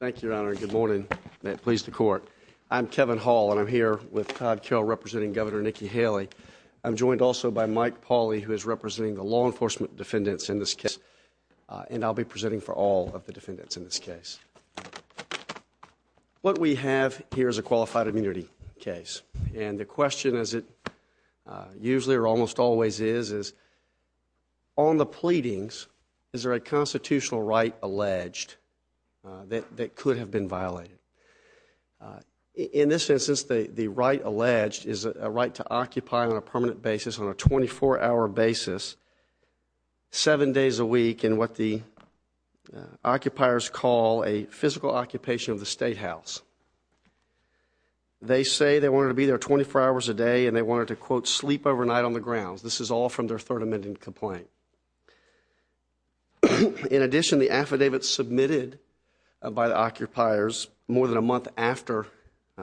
Thank you, Your Honor. Good morning. May it please the court. I'm Kevin Hall and I'm here with Todd Kell representing Governor Nikki Haley. I'm joined also by Mike Pauly, who is representing the law enforcement defendants in this case, and I'll be presenting for all of the defendants in this case. What we have here is a qualified immunity case, and the question, as it usually or almost always is, is on the pleadings, is there a constitutional right alleged that could have been violated? In this instance, the right alleged is a right to occupy on a permanent basis, on a 24-hour basis, seven days a week in what the occupiers call a physical occupation of the Statehouse. They say they wanted to be there 24 hours a day and they wanted to, quote, sleep overnight on the grounds. This is all from their Third Amendment complaint. In addition, the affidavit submitted by the occupiers more than a month after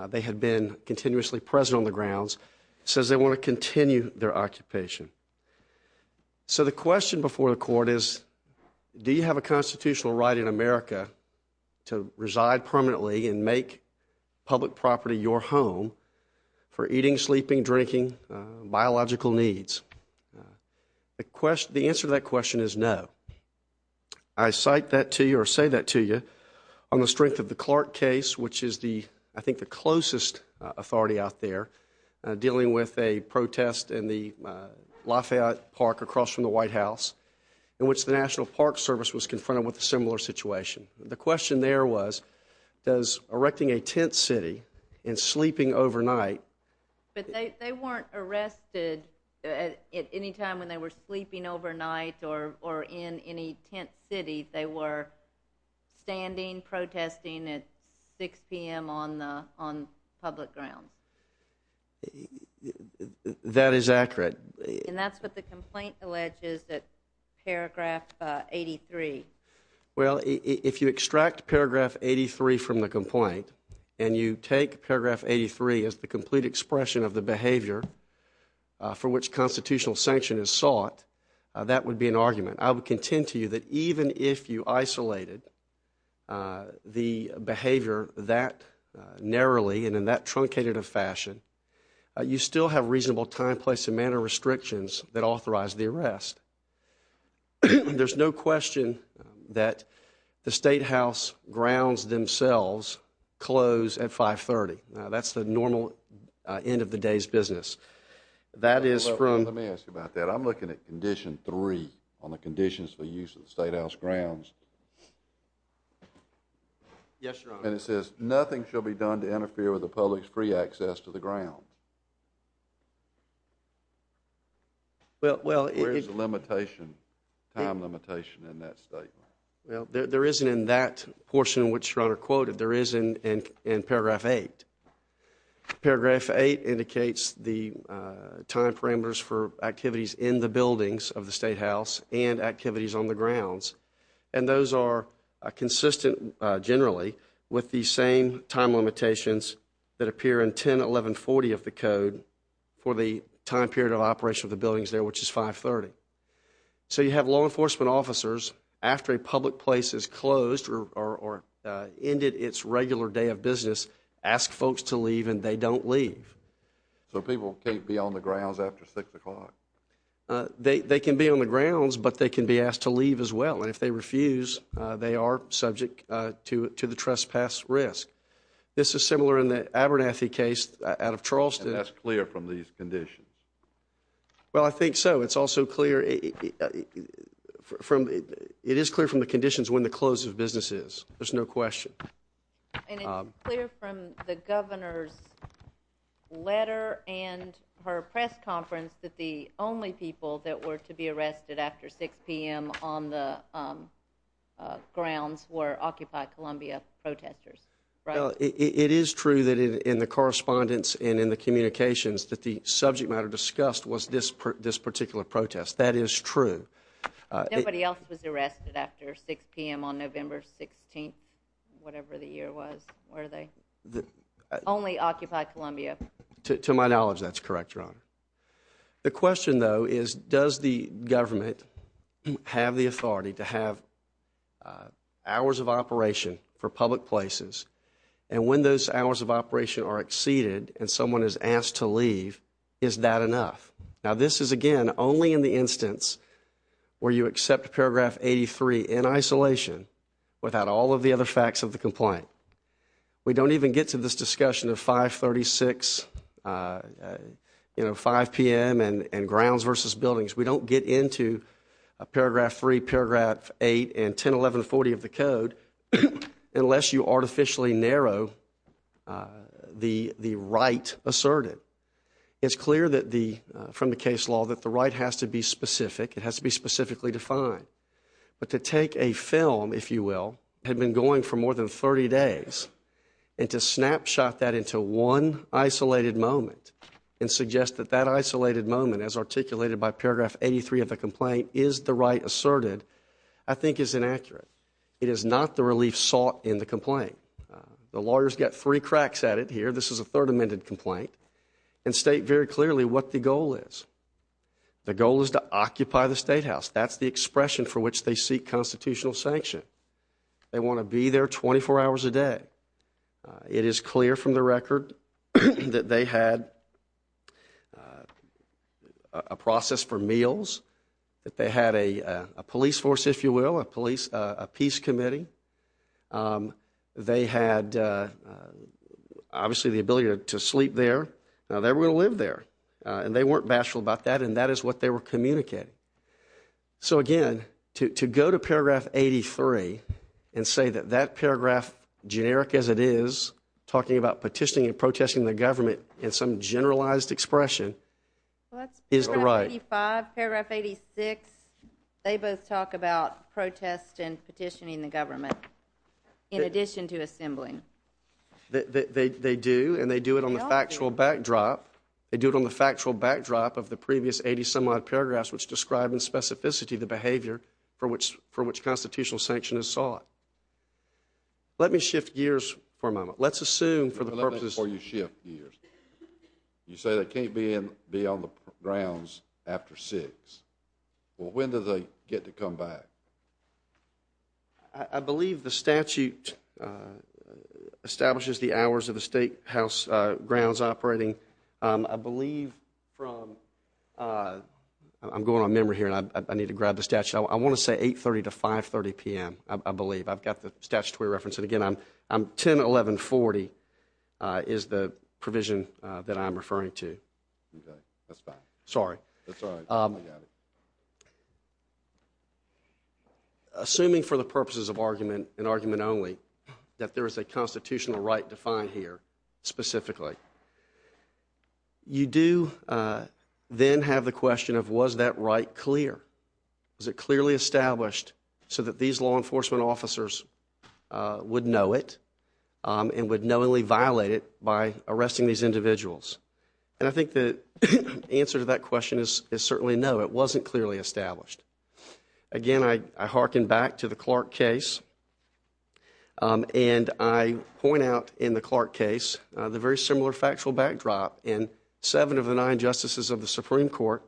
they had been continuously present on the grounds says they want to continue their occupation. So the question before the court is do you have a constitutional right in America to reside permanently and make public property your home for eating, sleeping, drinking, biological needs? The answer to that question is no. I cite that to you or say that to you on the strength of the Clark case, which is the, I think, the closest authority out there dealing with a protest in the Lafayette Park across from the White House in which the National Park Service was confronted with a similar situation. The question there was does erecting a tent city and sleeping overnight… At any time when they were sleeping overnight or in any tent city, they were standing, protesting at 6 p.m. on public grounds? That is accurate. And that's what the complaint alleges at paragraph 83. Well, if you extract paragraph 83 from the complaint and you take paragraph 83 as the complete expression of the behavior for which constitutional sanction is sought, that would be an argument. I would contend to you that even if you isolated the behavior that narrowly and in that truncated a fashion, you still have reasonable time, place and manner restrictions that authorize the arrest. There's no question that the Statehouse grounds themselves close at 530. Now, that's the normal end of the day's business. That is from… Let me ask you about that. I'm looking at condition three on the conditions for use of the Statehouse grounds. Yes, Your Honor. And it says nothing shall be done to interfere with the public's free access to the ground. Well… Where is the limitation, time limitation in that statement? Well, there isn't in that portion which Your Honor quoted. There is in paragraph eight. Paragraph eight indicates the time parameters for activities in the buildings of the Statehouse and activities on the grounds. And those are consistent generally with the same time limitations that appear in 101140 of the code for the time period of operation of the buildings there which is 530. So, you have law enforcement officers after a public place is closed or ended its regular day of business ask folks to leave and they don't leave. So, people can't be on the grounds after 6 o'clock? They can be on the grounds, but they can be asked to leave as well. And if they refuse, they are subject to the trespass risk. This is similar in the Abernathy case out of Charleston. And that's clear from these conditions? Well, I think so. It's also clear from… It is clear from the conditions when the close of business is. There's no question. And it's clear from the Governor's letter and her press conference that the only people that were to be arrested after 6 p.m. on the grounds were Occupy Columbia protesters, right? It is true that in the correspondence and in the communications that the subject matter discussed was this particular protest. That is true. Nobody else was arrested after 6 p.m. on November 16th, whatever the year was, were they? Only Occupy Columbia. To my knowledge, that's correct, Your Honor. The question, though, is does the government have the authority to have hours of operation for public places? And when those hours of operation are exceeded and someone is asked to leave, is that enough? Now, this is, again, only in the instance where you accept Paragraph 83 in isolation without all of the other facts of the complaint. We don't even get to this discussion of 536, you know, 5 p.m. and grounds versus buildings. We don't get into Paragraph 3, Paragraph 8, and 101140 of the code unless you artificially narrow the right asserted. It's clear from the case law that the right has to be specific. It has to be specifically defined. But to take a film, if you will, had been going for more than 30 days, and to snapshot that into one isolated moment and suggest that that isolated moment, as articulated by Paragraph 83 of the complaint, is the right asserted, I think is inaccurate. The lawyers get three cracks at it here. This is a Third Amendment complaint and state very clearly what the goal is. The goal is to occupy the Statehouse. That's the expression for which they seek constitutional sanction. They want to be there 24 hours a day. It is clear from the record that they had a process for meals, that they had a police force, if you will, a peace committee. They had, obviously, the ability to sleep there. Now, they were going to live there. And they weren't bashful about that, and that is what they were communicating. So, again, to go to Paragraph 83 and say that that paragraph, generic as it is, talking about petitioning and protesting the government in some generalized expression, is the right. Paragraph 85, Paragraph 86, they both talk about protest and petitioning the government, in addition to assembling. They do, and they do it on the factual backdrop. They do it on the factual backdrop of the previous 80-some-odd paragraphs, which describe in specificity the behavior for which constitutional sanction is sought. Let me shift gears for a moment. Let's assume, for the purposes— Let me before you shift gears. You say they can't be on the grounds after 6. Well, when do they get to come back? I believe the statute establishes the hours of the Statehouse grounds operating. I believe from—I'm going on memory here, and I need to grab the statute. I want to say 8.30 to 5.30 p.m., I believe. I've got the statutory reference. And, again, 10.11.40 is the provision that I'm referring to. Okay, that's fine. Sorry. That's all right. I got it. Assuming, for the purposes of argument and argument only, that there is a constitutional right defined here specifically, you do then have the question of, was that right clear? Was it clearly established so that these law enforcement officers would know it and would knowingly violate it by arresting these individuals? And I think the answer to that question is certainly no. It wasn't clearly established. Again, I hearken back to the Clark case. And I point out in the Clark case the very similar factual backdrop and seven of the nine justices of the Supreme Court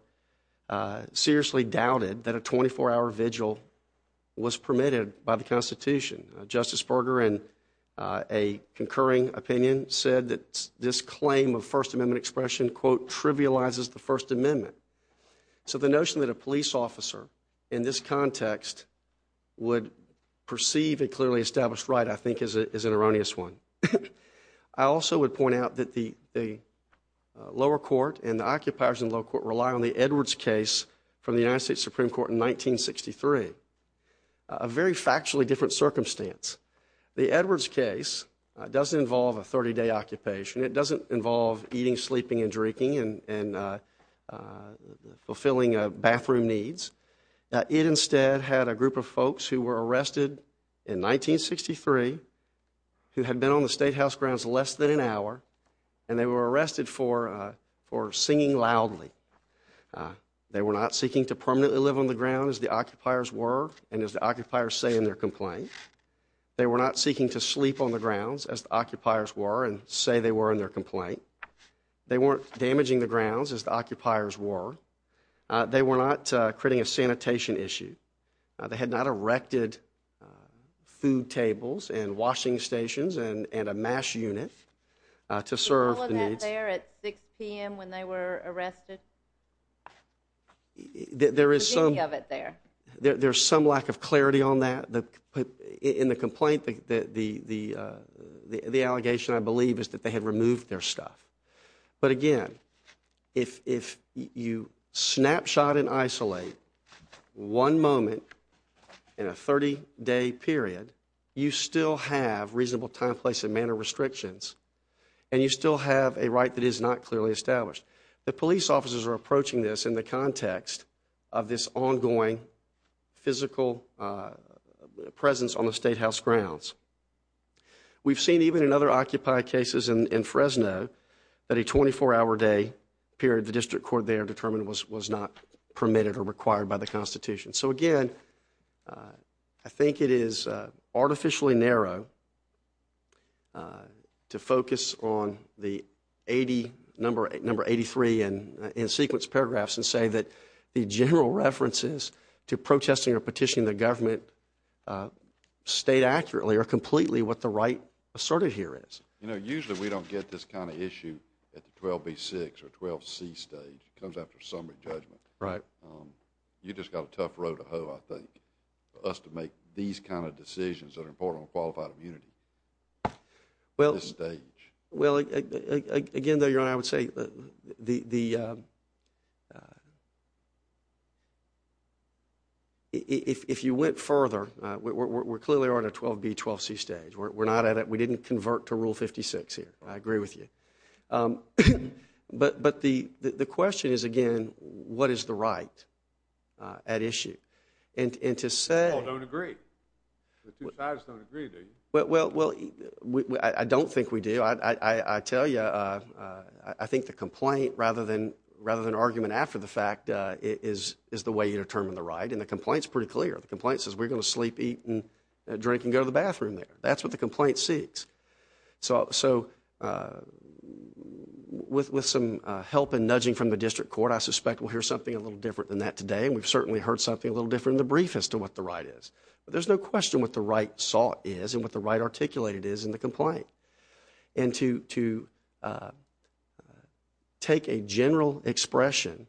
seriously doubted that a 24-hour vigil was permitted by the Constitution. Justice Berger, in a concurring opinion, said that this claim of First Amendment expression, quote, trivializes the First Amendment. So the notion that a police officer in this context would perceive a clearly established right, I think, is an erroneous one. I also would point out that the lower court and the occupiers in the lower court rely on the Edwards case from the United States Supreme Court in 1963, a very factually different circumstance. The Edwards case doesn't involve a 30-day occupation. It doesn't involve eating, sleeping, and drinking and fulfilling bathroom needs. It instead had a group of folks who were arrested in 1963 who had been on the State House grounds less than an hour, and they were arrested for singing loudly. They were not seeking to permanently live on the ground as the occupiers were and as the occupiers say in their complaint. They were not seeking to sleep on the grounds as the occupiers were and say they were in their complaint. They weren't damaging the grounds as the occupiers were. They were not creating a sanitation issue. They had not erected food tables and washing stations and a mash unit to serve the needs. Was all of that there at 6 p.m. when they were arrested? There is some lack of clarity on that. In the complaint, the allegation, I believe, is that they had removed their stuff. But again, if you snapshot and isolate one moment in a 30-day period, you still have reasonable time, place, and manner restrictions, and you still have a right that is not clearly established. The police officers are approaching this in the context of this ongoing physical presence on the State House grounds. We've seen even in other occupied cases in Fresno that a 24-hour day period, the district court there determined was not permitted or required by the Constitution. So again, I think it is artificially narrow to focus on the number 83 in sequence paragraphs and say that the general references to protesting or petitioning the government state accurately are completely what the right asserted here is. You know, usually we don't get this kind of issue at the 12B6 or 12C stage. It comes after summary judgment. You've just got a tough road to hoe, I think, for us to make these kind of decisions that are important on qualified immunity at this stage. Well, again, though, Your Honor, I would say if you went further, we're clearly on a 12B, 12C stage. We didn't convert to Rule 56 here. I agree with you. But the question is, again, what is the right at issue? And to say— We all don't agree. The two sides don't agree, do you? Well, I don't think we do. I tell you, I think the complaint rather than argument after the fact is the way you determine the right, and the complaint is pretty clear. The complaint says we're going to sleep, eat, drink, and go to the bathroom there. That's what the complaint seeks. So with some help and nudging from the district court, I suspect we'll hear something a little different than that today, and we've certainly heard something a little different in the brief as to what the right is. But there's no question what the right is and what the right articulated is in the complaint. And to take a general expression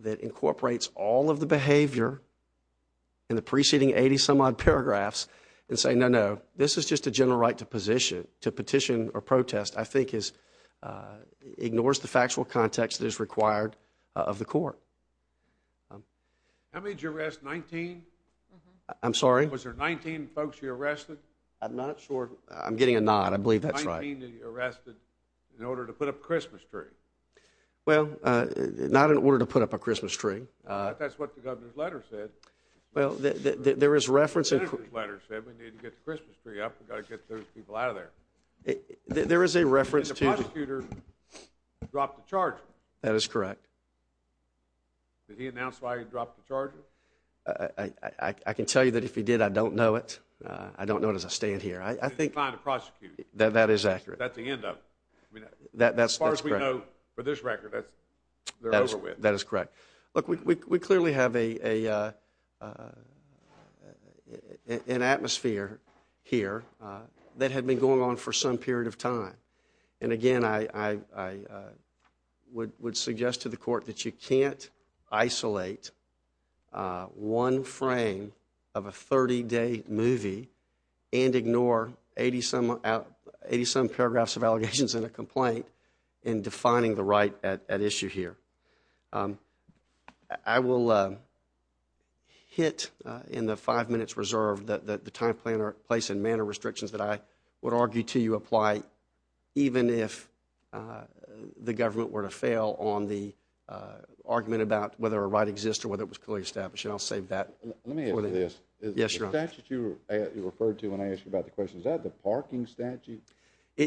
that incorporates all of the behavior in the preceding 80-some-odd paragraphs and say, no, no, this is just a general right to petition or protest, I think ignores the factual context that is required of the court. How many did you arrest, 19? I'm sorry? Was there 19 folks you arrested? I'm not sure. I'm getting a nod. I believe that's right. Nineteen that you arrested in order to put up a Christmas tree. Well, not in order to put up a Christmas tree. But that's what the governor's letter said. Well, there is reference. The senator's letter said we need to get the Christmas tree up. We've got to get those people out of there. There is a reference to. And the prosecutor dropped the charge. That is correct. Did he announce why he dropped the charge? I can tell you that if he did, I don't know it. I don't know it as I stand here. He's trying to prosecute you. That is accurate. That's the end of it. As far as we know, for this record, they're over with. That is correct. Look, we clearly have an atmosphere here that had been going on for some period of time. And again, I would suggest to the court that you can't isolate one frame of a 30-day movie and ignore 80-some paragraphs of allegations in a complaint in defining the right at issue here. I will hit in the five minutes reserved the time, place, and manner restrictions that I would argue to you apply even if the government were to fail on the argument about whether a right exists or whether it was clearly established. And I'll save that for later. Let me ask you this. Yes, Your Honor. The statute you referred to when I asked you about the question, is that the parking statute? It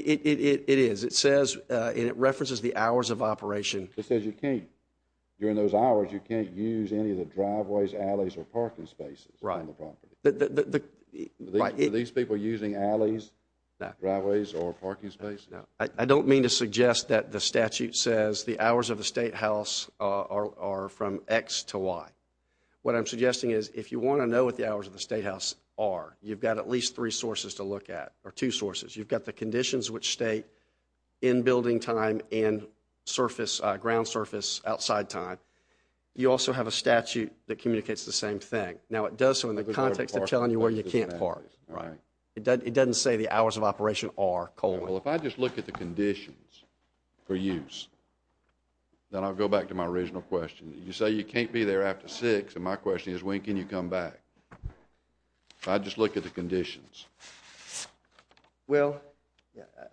is. It says, and it references the hours of operation. It says you can't, during those hours, you can't use any of the driveways, alleys, or parking spaces on the property. Right. Are these people using alleys, driveways, or parking spaces? No. I don't mean to suggest that the statute says the hours of the Statehouse are from X to Y. What I'm suggesting is if you want to know what the hours of the Statehouse are, you've got at least three sources to look at, or two sources. You've got the conditions which state in-building time and surface, ground surface, outside time. You also have a statute that communicates the same thing. Now, it does so in the context of telling you where you can't park. Right. It doesn't say the hours of operation are colon. Well, if I just look at the conditions for use, then I'll go back to my original question. You say you can't be there after 6, and my question is, when can you come back? If I just look at the conditions. Well,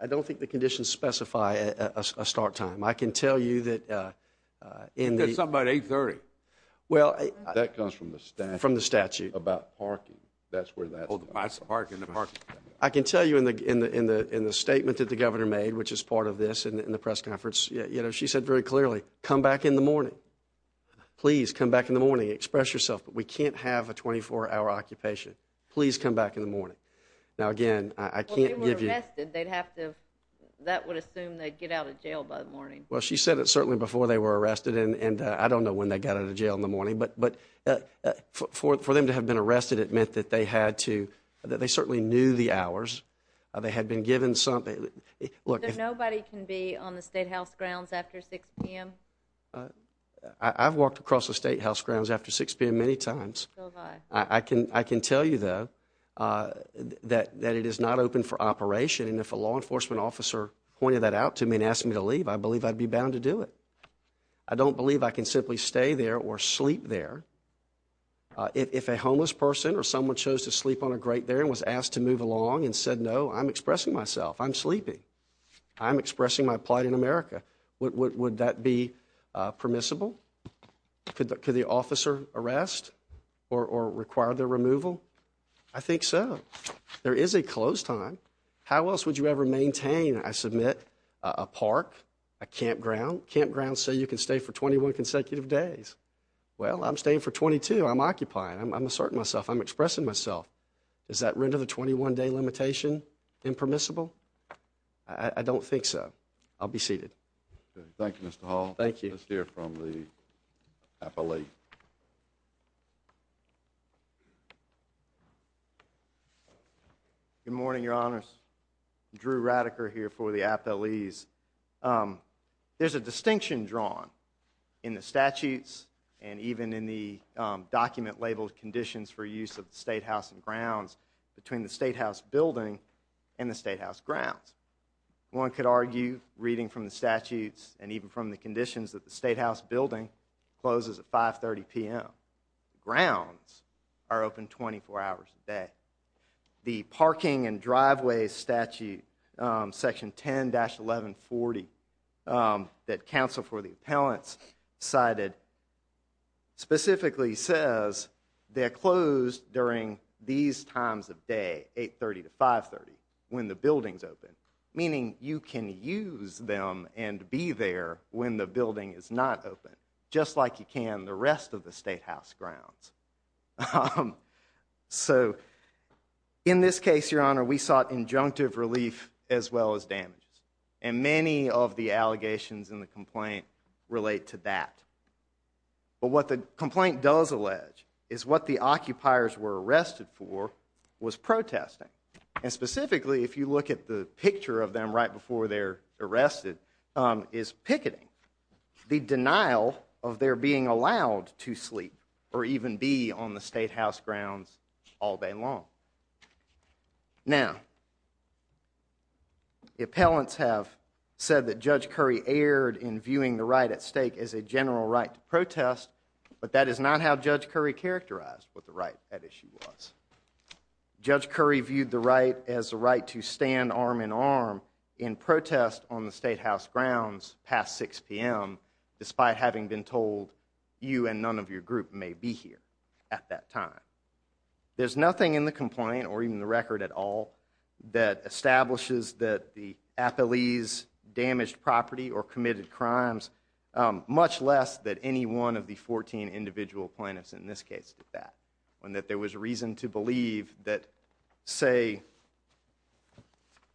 I don't think the conditions specify a start time. I can tell you that in the— It says something about 830. Well— That comes from the statute. From the statute. About parking. That's where that— Oh, the parking, the parking. I can tell you in the statement that the Governor made, which is part of this and the press conference, you know, she said very clearly, come back in the morning. Please, come back in the morning. Express yourself, but we can't have a 24-hour occupation. Please come back in the morning. Now, again, I can't give you— Well, if they were arrested, they'd have to—that would assume they'd get out of jail by the morning. Well, she said it certainly before they were arrested, and I don't know when they got out of jail in the morning. But for them to have been arrested, it meant that they had to—that they certainly knew the hours. They had been given some— Look— Nobody can be on the Statehouse grounds after 6 p.m.? I've walked across the Statehouse grounds after 6 p.m. many times. I can tell you, though, that it is not open for operation, and if a law enforcement officer pointed that out to me and asked me to leave, I believe I'd be bound to do it. I don't believe I can simply stay there or sleep there. If a homeless person or someone chose to sleep on a grate there and was asked to move along and said, no, I'm expressing myself, I'm sleeping, I'm expressing my plight in America, would that be permissible? Could the officer arrest or require their removal? I think so. There is a closed time. How else would you ever maintain, I submit, a park, a campground? Campgrounds say you can stay for 21 consecutive days. Well, I'm staying for 22. I'm occupying. I'm asserting myself. I'm expressing myself. Does that render the 21-day limitation impermissible? I don't think so. I'll be seated. Okay. Thank you, Mr. Hall. Thank you. Let's hear from the appellee. Good morning, Your Honors. Drew Radiker here for the appellees. There's a distinction drawn in the statutes and even in the document-labeled conditions for use of the Statehouse and grounds between the Statehouse building and the Statehouse grounds. One could argue, reading from the statutes and even from the conditions, that the Statehouse building closes at 5.30 p.m. Grounds are open 24 hours a day. The parking and driveway statute, Section 10-1140, that counsel for the appellants cited, specifically says they're closed during these times of day, 8.30 to 5.30, when the building's open, meaning you can use them and be there when the building is not open, just like you can the rest of the Statehouse grounds. So in this case, Your Honor, we sought injunctive relief as well as damage. And many of the allegations in the complaint relate to that. But what the complaint does allege is what the occupiers were arrested for was protesting. And specifically, if you look at the picture of them right before they're arrested, is picketing. The denial of their being allowed to sleep or even be on the Statehouse grounds all day long. Now, the appellants have said that Judge Curry erred in viewing the right at stake as a general right to protest, but that is not how Judge Curry characterized what the right at issue was. Judge Curry viewed the right as a right to stand arm-in-arm in protest on the Statehouse grounds past 6 p.m., despite having been told, you and none of your group may be here at that time. There's nothing in the complaint, or even the record at all, that establishes that the appellees damaged property or committed crimes, much less that any one of the 14 individual plaintiffs in this case did that, and that there was reason to believe that, say,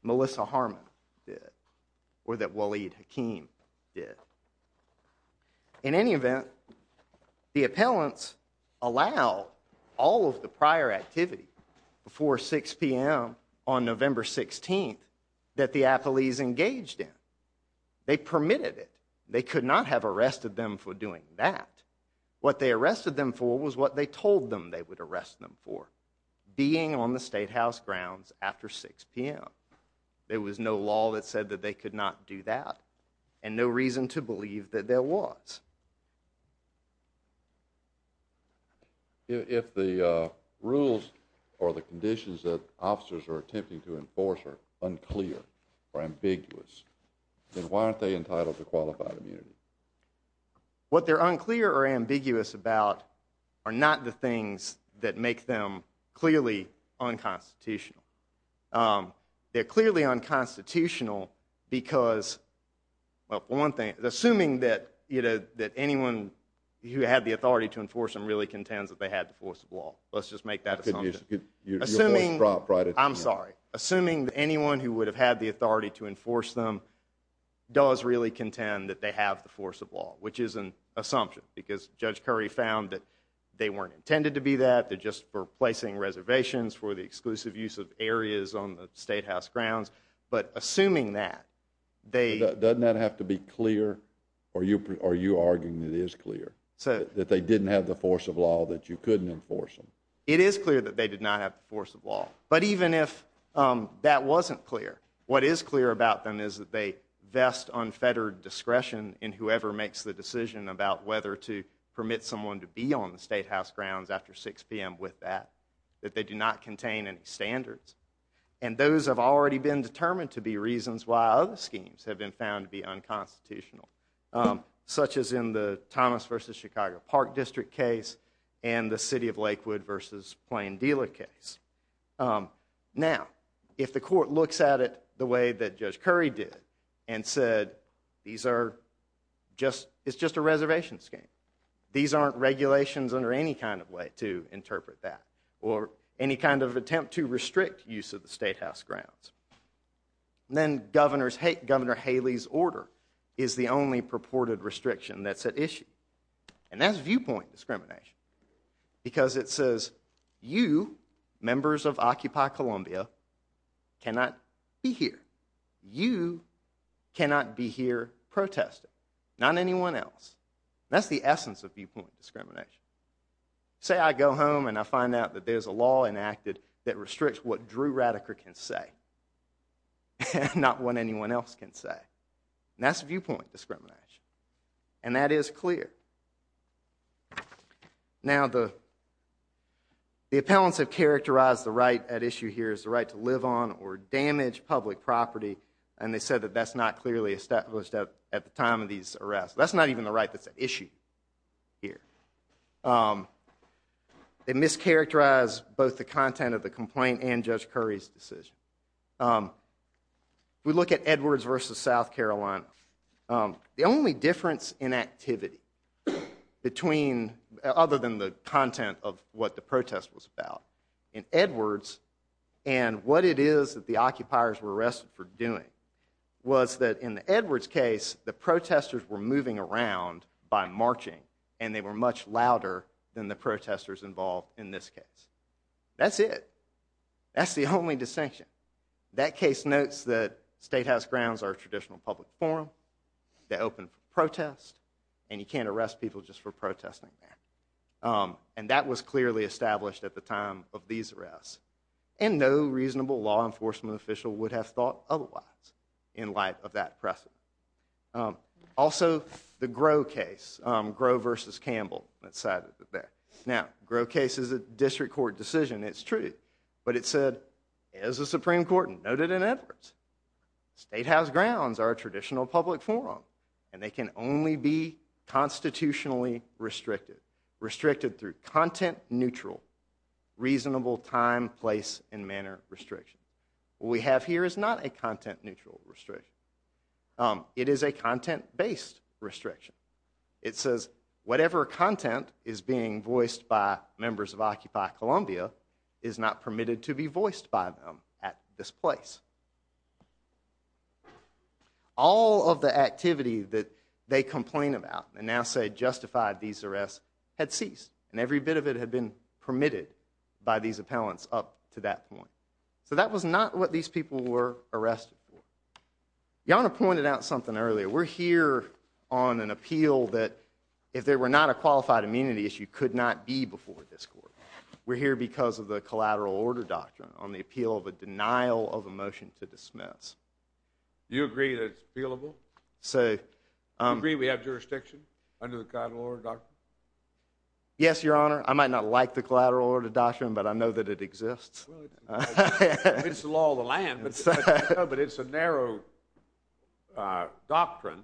Melissa Harmon did, or that Waleed Hakeem did. In any event, the appellants allow all of the prior activity before 6 p.m. on November 16th that the appellees engaged in. They permitted it. They could not have arrested them for doing that. What they arrested them for was what they told them they would arrest them for, being on the Statehouse grounds after 6 p.m. There was no law that said that they could not do that, and no reason to believe that there was. If the rules or the conditions that officers are attempting to enforce are unclear or ambiguous, then why aren't they entitled to qualified immunity? What they're unclear or ambiguous about are not the things that make them clearly unconstitutional. They're clearly unconstitutional because, well, one thing, assuming that anyone who had the authority to enforce them really contends that they had the force of law. Let's just make that assumption. Your voice dropped right at the end. I'm sorry. Assuming that anyone who would have had the authority to enforce them does really contend that they have the force of law, which is an assumption, because Judge Curry found that they weren't intended to be that. They're just replacing reservations for the exclusive use of areas on the Statehouse grounds. But assuming that, they— Doesn't that have to be clear, or are you arguing that it is clear, that they didn't have the force of law, that you couldn't enforce them? It is clear that they did not have the force of law, but even if that wasn't clear, what is clear about them is that they vest unfettered discretion in whoever makes the decision about whether to permit someone to be on the Statehouse grounds after 6 p.m. with that, that they do not contain any standards. And those have already been determined to be reasons why other schemes have been found to be unconstitutional, such as in the Thomas v. Chicago Park District case and the City of Lakewood v. Plain Dealer case. Now, if the court looks at it the way that Judge Curry did and said, these are just—it's just a reservation scheme, these aren't regulations under any kind of way to interpret that, or any kind of attempt to restrict use of the Statehouse grounds, then Governor Haley's order is the only purported restriction that's at issue. And that's viewpoint discrimination. Because it says, you, members of Occupy Columbia, cannot be here. You cannot be here protesting, not anyone else. That's the essence of viewpoint discrimination. Say I go home and I find out that there's a law enacted that restricts what Drew Rattiker can say, not what anyone else can say. That's viewpoint discrimination. And that is clear. Now, the—the appellants have characterized the right at issue here as the right to live on or damage public property, and they said that that's not clearly established at the time of these arrests. That's not even the right that's at issue here. They mischaracterized both the content of the complaint and Judge Curry's decision. If we look at Edwards v. South Carolina, the only difference in activity between—other than the content of what the protest was about, in Edwards, and what it is that the occupiers were arrested for doing, was that in the Edwards case, the protesters were moving around by marching, and they were much louder than the protesters involved in this case. That's it. That's the only distinction. That case notes that statehouse grounds are a traditional public forum, they open for protest, and you can't arrest people just for protesting there. And that was clearly established at the time of these arrests. And no reasonable law enforcement official would have thought otherwise, in light of that precedent. Also, the Groh case, Groh v. Campbell. Now, Groh case is a district court decision, it's true. But it said, as the Supreme Court noted in Edwards, statehouse grounds are a traditional public forum, and they can only be constitutionally restricted. Restricted through content-neutral, reasonable time, place, and manner restrictions. What we have here is not a content-neutral restriction. It is a content-based restriction. It says, whatever content is being voiced by members of Occupy Columbia is not permitted to be voiced by them at this place. All of the activity that they complain about, and now say justified these arrests, had ceased. And every bit of it had been permitted by these appellants up to that point. So that was not what these people were arrested for. Yanna pointed out something earlier. We're here on an appeal that, if there were not a qualified immunity issue, could not be before this court. We're here because of the collateral order doctrine, on the appeal of a denial of a motion to dismiss. Do you agree that it's appealable? Do you agree we have jurisdiction under the collateral order doctrine? Yes, Your Honor. I might not like the collateral order doctrine, but I know that it exists. It's the law of the land. But it's a narrow doctrine,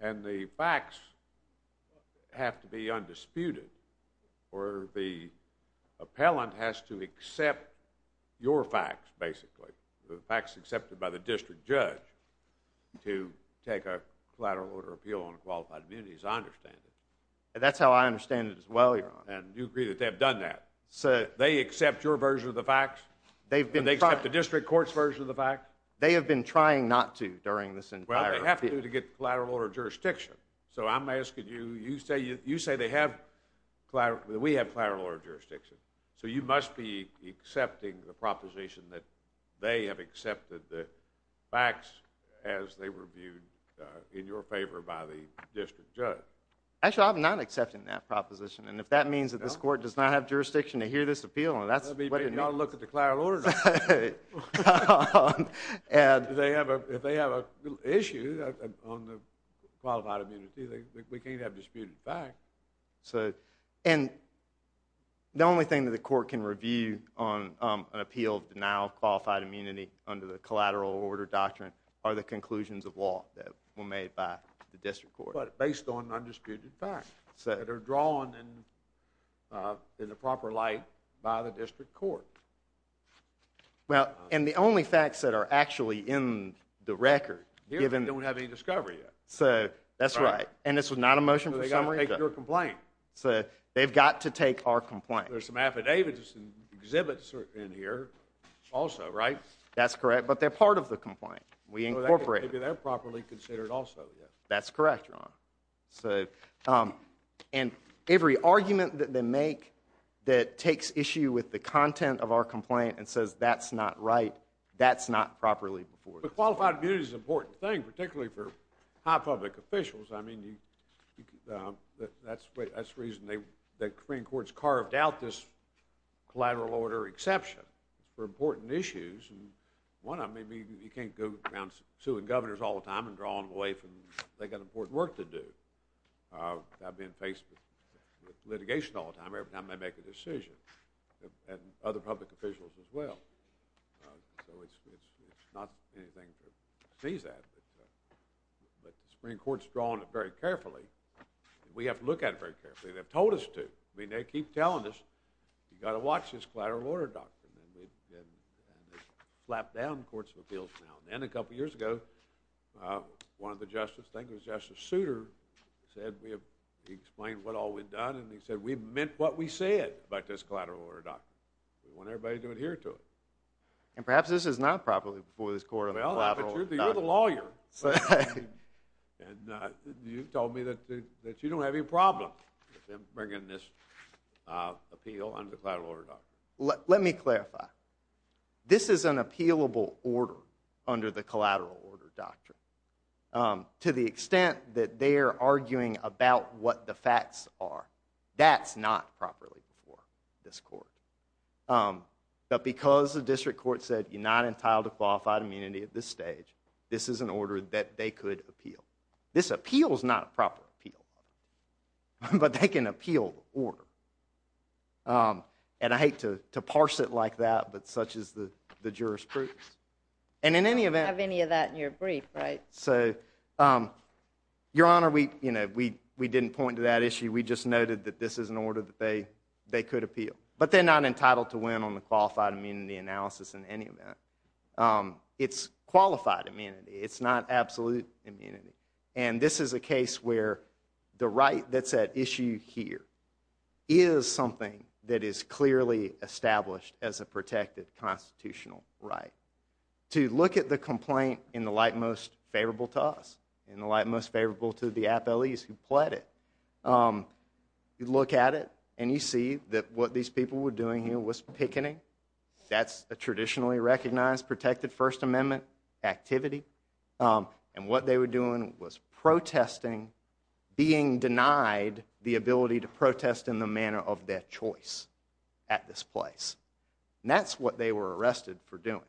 and the facts have to be undisputed. Or the appellant has to accept your facts, basically, the facts accepted by the district judge, to take a collateral order appeal on a qualified immunity, as I understand it. That's how I understand it as well, Your Honor. And you agree that they have done that? They accept your version of the facts? Do they accept the district court's version of the facts? They have been trying not to during this entire appeal. Well, they have to to get collateral order jurisdiction. So I'm asking you, you say we have collateral order jurisdiction. So you must be accepting the proposition that they have accepted the facts as they were viewed in your favor by the district judge. Actually, I'm not accepting that proposition. And if that means that this court does not have jurisdiction to hear this appeal, then that's what it means. Maybe you ought to look at the collateral order doctrine. Well, if they have an issue on the qualified immunity, we can't have disputed facts. And the only thing that the court can review on an appeal of denial of qualified immunity under the collateral order doctrine are the conclusions of law that were made by the district court. But based on undisputed facts that are drawn in the proper light by the district court. Well, and the only facts that are actually in the record. Here, we don't have any discovery yet. So that's right. And this was not a motion for the summary? They've got to take your complaint. So they've got to take our complaint. There's some affidavits and exhibits in here also, right? That's correct. But they're part of the complaint. We incorporated them. Maybe they're properly considered also. That's correct, Your Honor. And every argument that they make that takes issue with the content of our complaint and says that's not right, that's not properly reported. But qualified immunity is an important thing, particularly for high public officials. I mean, that's the reason the Korean courts carved out this collateral order exception for important issues. One, I mean, you can't go around suing governors all the time and draw them away from they've got important work to do. I've been faced with litigation all the time every time they make a decision, and other public officials as well. So it's not anything to sneeze at. But the Supreme Court's drawn it very carefully. We have to look at it very carefully. They've told us to. I mean, they keep telling us you've got to watch this collateral order doctrine. And they've slapped down courts of appeals now. And then a couple years ago, one of the justices, I think it was Justice Souter, said we have explained what all we've done, and he said we've meant what we said about this collateral order doctrine. We want everybody to adhere to it. And perhaps this is not properly before this court on the collateral order doctrine. Well, you're the lawyer. And you told me that you don't have any problem with them bringing this appeal on the collateral order doctrine. Let me clarify. This is an appealable order under the collateral order doctrine. To the extent that they're arguing about what the facts are, that's not properly before this court. But because the district court said you're not entitled to qualified immunity at this stage, this is an order that they could appeal. This appeal is not a proper appeal. But they can appeal the order. And I hate to parse it like that, but such is the jurisprudence. And in any event... I don't have any of that in your brief, right? So, Your Honor, we didn't point to that issue. We just noted that this is an order that they could appeal. But they're not entitled to win on the qualified immunity analysis in any event. It's qualified immunity. It's not absolute immunity. And this is a case where the right that's at issue here is something that is clearly established as a protected constitutional right. To look at the complaint in the light most favorable to us, in the light most favorable to the appellees who pled it, you look at it and you see that what these people were doing here was picketing. That's a traditionally recognized protected First Amendment activity. And what they were doing was protesting being denied the ability to protest in the manner of their choice at this place. And that's what they were arrested for doing.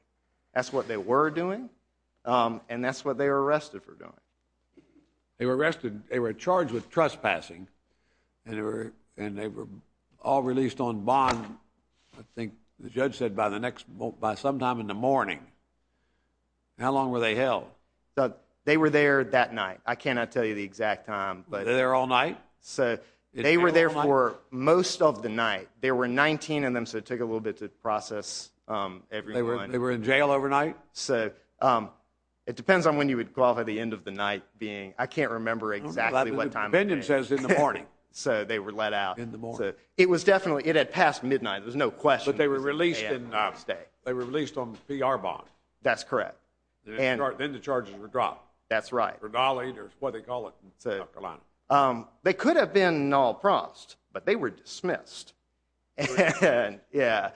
That's what they were doing, and that's what they were arrested for doing. They were arrested. They were charged with trespassing. And they were all released on bond, I think the judge said, by sometime in the morning. How long were they held? They were there that night. I cannot tell you the exact time. They were there all night? They were there for most of the night. There were 19 of them, so it took a little bit to process everyone. They were in jail overnight? It depends on when you would qualify, the end of the night being. I can't remember exactly what time. The opinion says in the morning. So they were let out. In the morning. It was definitely, it had passed midnight. There was no question. But they were released on PR bond. That's correct. Then the charges were dropped. That's right. For Dolly, or what they call it in North Carolina. They could have been Nall Prost, but they were dismissed. What's the difference?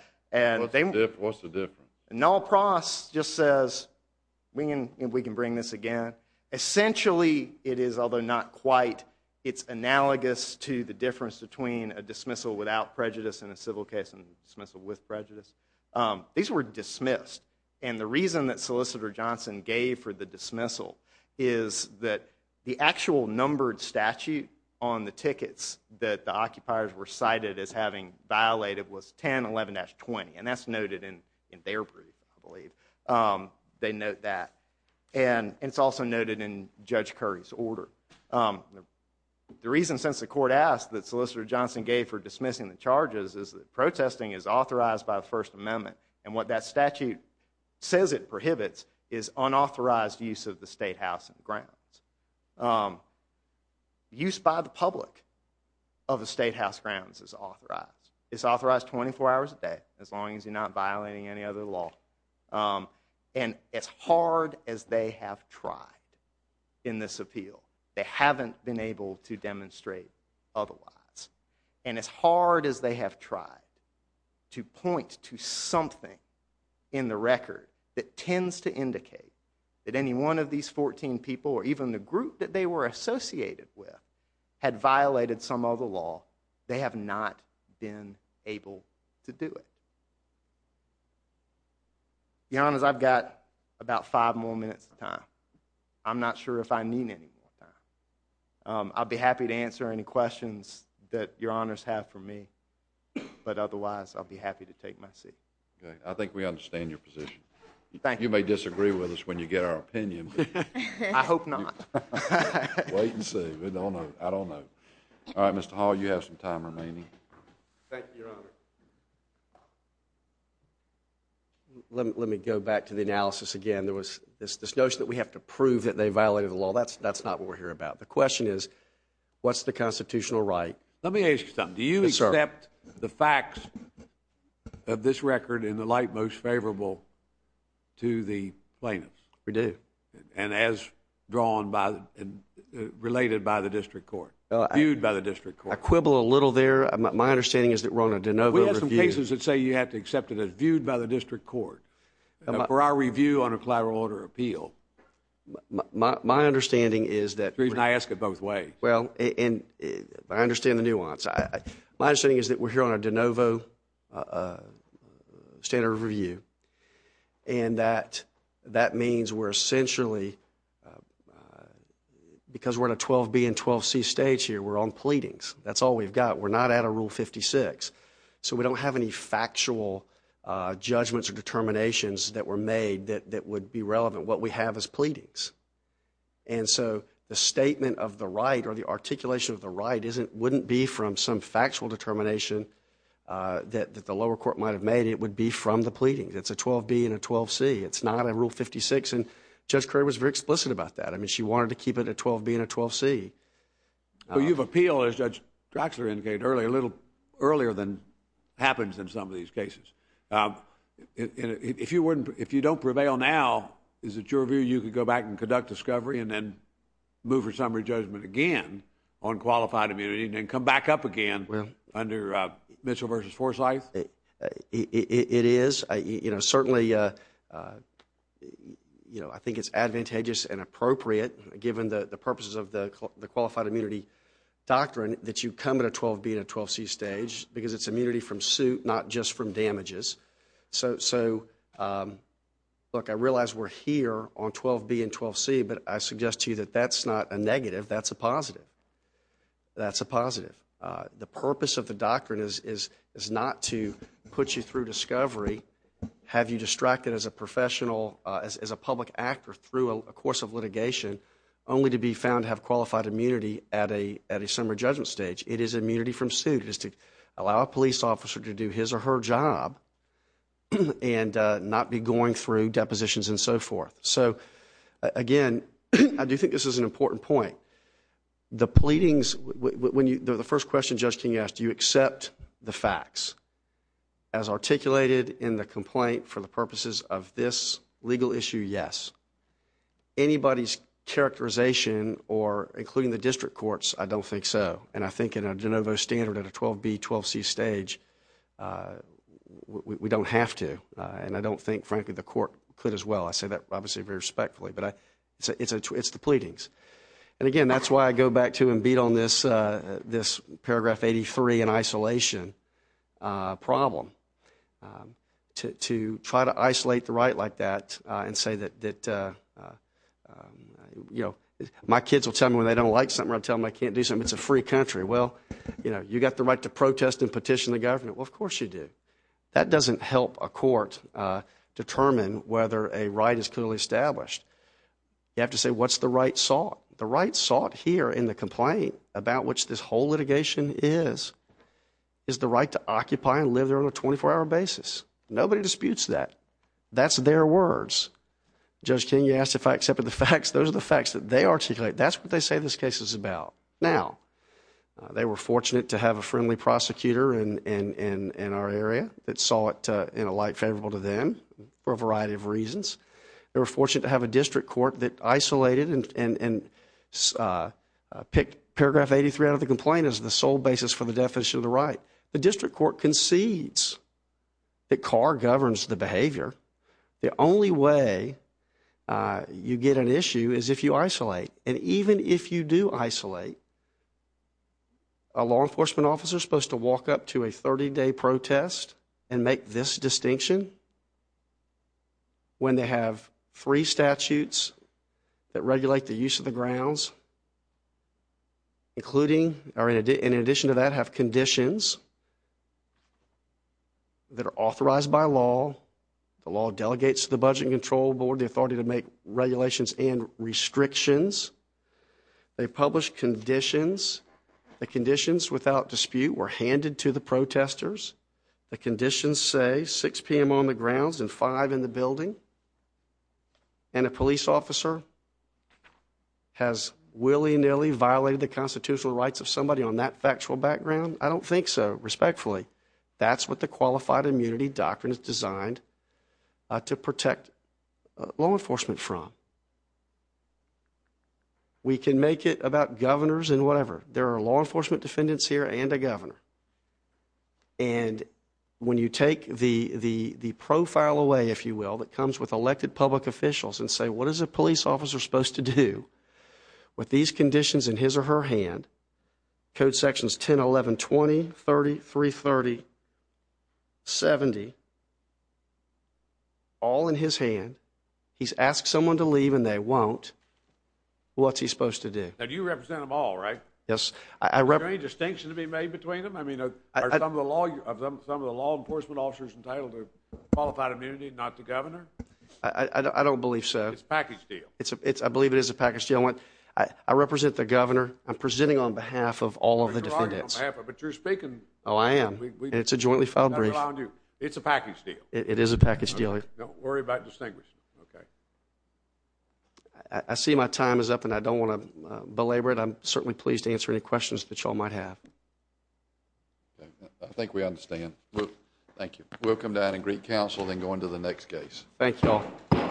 Nall Prost just says, we can bring this again. Essentially, it is, although not quite, it's analogous to the difference between a dismissal without prejudice and a civil case and a dismissal with prejudice. These were dismissed. The reason that Solicitor Johnson gave for the dismissal is that the actual numbered statute on the tickets that the occupiers were cited as having violated was 1011-20. That's noted in their brief, I believe. They note that. It's also noted in Judge Curry's order. The reason, since the court asked, that Solicitor Johnson gave for dismissing the charges is that protesting is authorized by the First Amendment. What that statute says it prohibits is unauthorized use of the State House and grounds. Use by the public of the State House grounds is authorized. It's authorized 24 hours a day, as long as you're not violating any other law. As hard as they have tried in this appeal, they haven't been able to demonstrate otherwise. And as hard as they have tried to point to something in the record that tends to indicate that any one of these 14 people, or even the group that they were associated with, had violated some other law, they have not been able to do it. To be honest, I've got about five more minutes of time. I'm not sure if I need any more time. I'll be happy to answer any questions that your honors have for me. But otherwise, I'll be happy to take my seat. I think we understand your position. You may disagree with us when you get our opinion. I hope not. Wait and see. I don't know. All right, Mr. Hall, you have some time remaining. Thank you, Your Honor. Let me go back to the analysis again. There was this notion that we have to prove that they violated the law. That's not what we're here about. The question is, what's the constitutional right? Let me ask you something. Do you accept the facts of this record in the light most favorable to the plaintiffs? We do. And as drawn by and related by the district court, viewed by the district court? I quibble a little there. My understanding is that we're on a de novo review. We have some cases that say you have to accept it as viewed by the district court for our review on a collateral order appeal. My understanding is that... I ask it both ways. Well, I understand the nuance. My understanding is that we're here on a de novo standard review and that that means we're essentially, because we're in a 12B and 12C stage here, we're on pleadings. That's all we've got. We're not out of Rule 56. So we don't have any factual judgments or determinations that were made that would be relevant. What we have is pleadings. And so the statement of the right or the articulation of the right wouldn't be from some factual determination that the lower court might have made. It would be from the pleadings. It's a 12B and a 12C. It's not a Rule 56. And Judge Curry was very explicit about that. I mean, she wanted to keep it a 12B and a 12C. Well, you've appealed, as Judge Draxler indicated earlier, a little earlier than happens in some of these cases. If you don't prevail now, is it your view you could go back and conduct discovery and then move for summary judgment again on qualified immunity and then come back up again under Mitchell v. Forsythe? It is. You know, certainly, you know, I think it's advantageous and appropriate, given the purposes of the qualified immunity doctrine, that you come at a 12B and a 12C stage because it's immunity from suit, not just from damages. So, look, I realize we're here on 12B and 12C, but I suggest to you that that's not a negative. That's a positive. That's a positive. The purpose of the doctrine is not to put you through discovery, have you distracted as a professional, as a public actor through a course of litigation, only to be found to have qualified immunity at a summary judgment stage. It is immunity from suit. It is to allow a police officer to do his or her job and not be going through depositions and so forth. So, again, I do think this is an important point. The pleadings, the first question Judge King asked, do you accept the facts? As articulated in the complaint, for the purposes of this legal issue, yes. Anybody's characterization, including the district courts, I don't think so. And I think in a de novo standard at a 12B, 12C stage, we don't have to. And I don't think, frankly, the court could as well. I say that, obviously, very respectfully. But it's the pleadings. And, again, that's why I go back to and beat on this paragraph 83 in isolation problem, to try to isolate the right like that and say that, you know, my kids will tell me when they don't like something or I'll tell them I can't do something. It's a free country. Well, you know, you've got the right to protest and petition the government. Well, of course you do. That doesn't help a court determine whether a right is clearly established. You have to say what's the right sought. The right sought here in the complaint, about which this whole litigation is, is the right to occupy and live there on a 24-hour basis. Nobody disputes that. That's their words. Judge King asked if I accepted the facts. Those are the facts that they articulate. That's what they say this case is about. Now, they were fortunate to have a friendly prosecutor in our area that saw it in a light favorable to them for a variety of reasons. They were fortunate to have a district court that isolated and picked paragraph 83 out of the complaint as the sole basis for the definition of the right. The district court concedes that Carr governs the behavior. The only way you get an issue is if you isolate. And even if you do isolate, a law enforcement officer is supposed to walk up to a 30-day protest and make this distinction when they have three statutes that regulate the use of the grounds, including, or in addition to that, have conditions that are authorized by law. The law delegates to the Budget and Control Board the authority to make regulations and restrictions. They publish conditions. The conditions without dispute were handed to the protesters. The conditions say 6 p.m. on the grounds and 5 in the building. And a police officer has willy-nilly violated the constitutional rights of somebody on that factual background? I don't think so, respectfully. That's what the Qualified Immunity Doctrine is designed to protect law enforcement from. We can make it about governors and whatever. There are law enforcement defendants here and a governor. And when you take the profile away, if you will, that comes with elected public officials and say, what is a police officer supposed to do with these conditions in his or her hand, code sections 10, 11, 20, 30, 330, 70, all in his hand? He's asked someone to leave and they won't. What's he supposed to do? Now, you represent them all, right? Yes. Is there any distinction to be made between them? Are some of the law enforcement officers entitled to qualified immunity and not the governor? I don't believe so. It's a package deal. I believe it is a package deal. I represent the governor. I'm presenting on behalf of all of the defendants. But you're speaking. Oh, I am. And it's a jointly filed brief. It's a package deal. It is a package deal. Don't worry about distinguishing. OK. I see my time is up and I don't want to belabor it. I'm certainly pleased to answer any questions that you all might have. I think we understand. Thank you. We'll come down and greet counsel, then go on to the next case. Thank you all.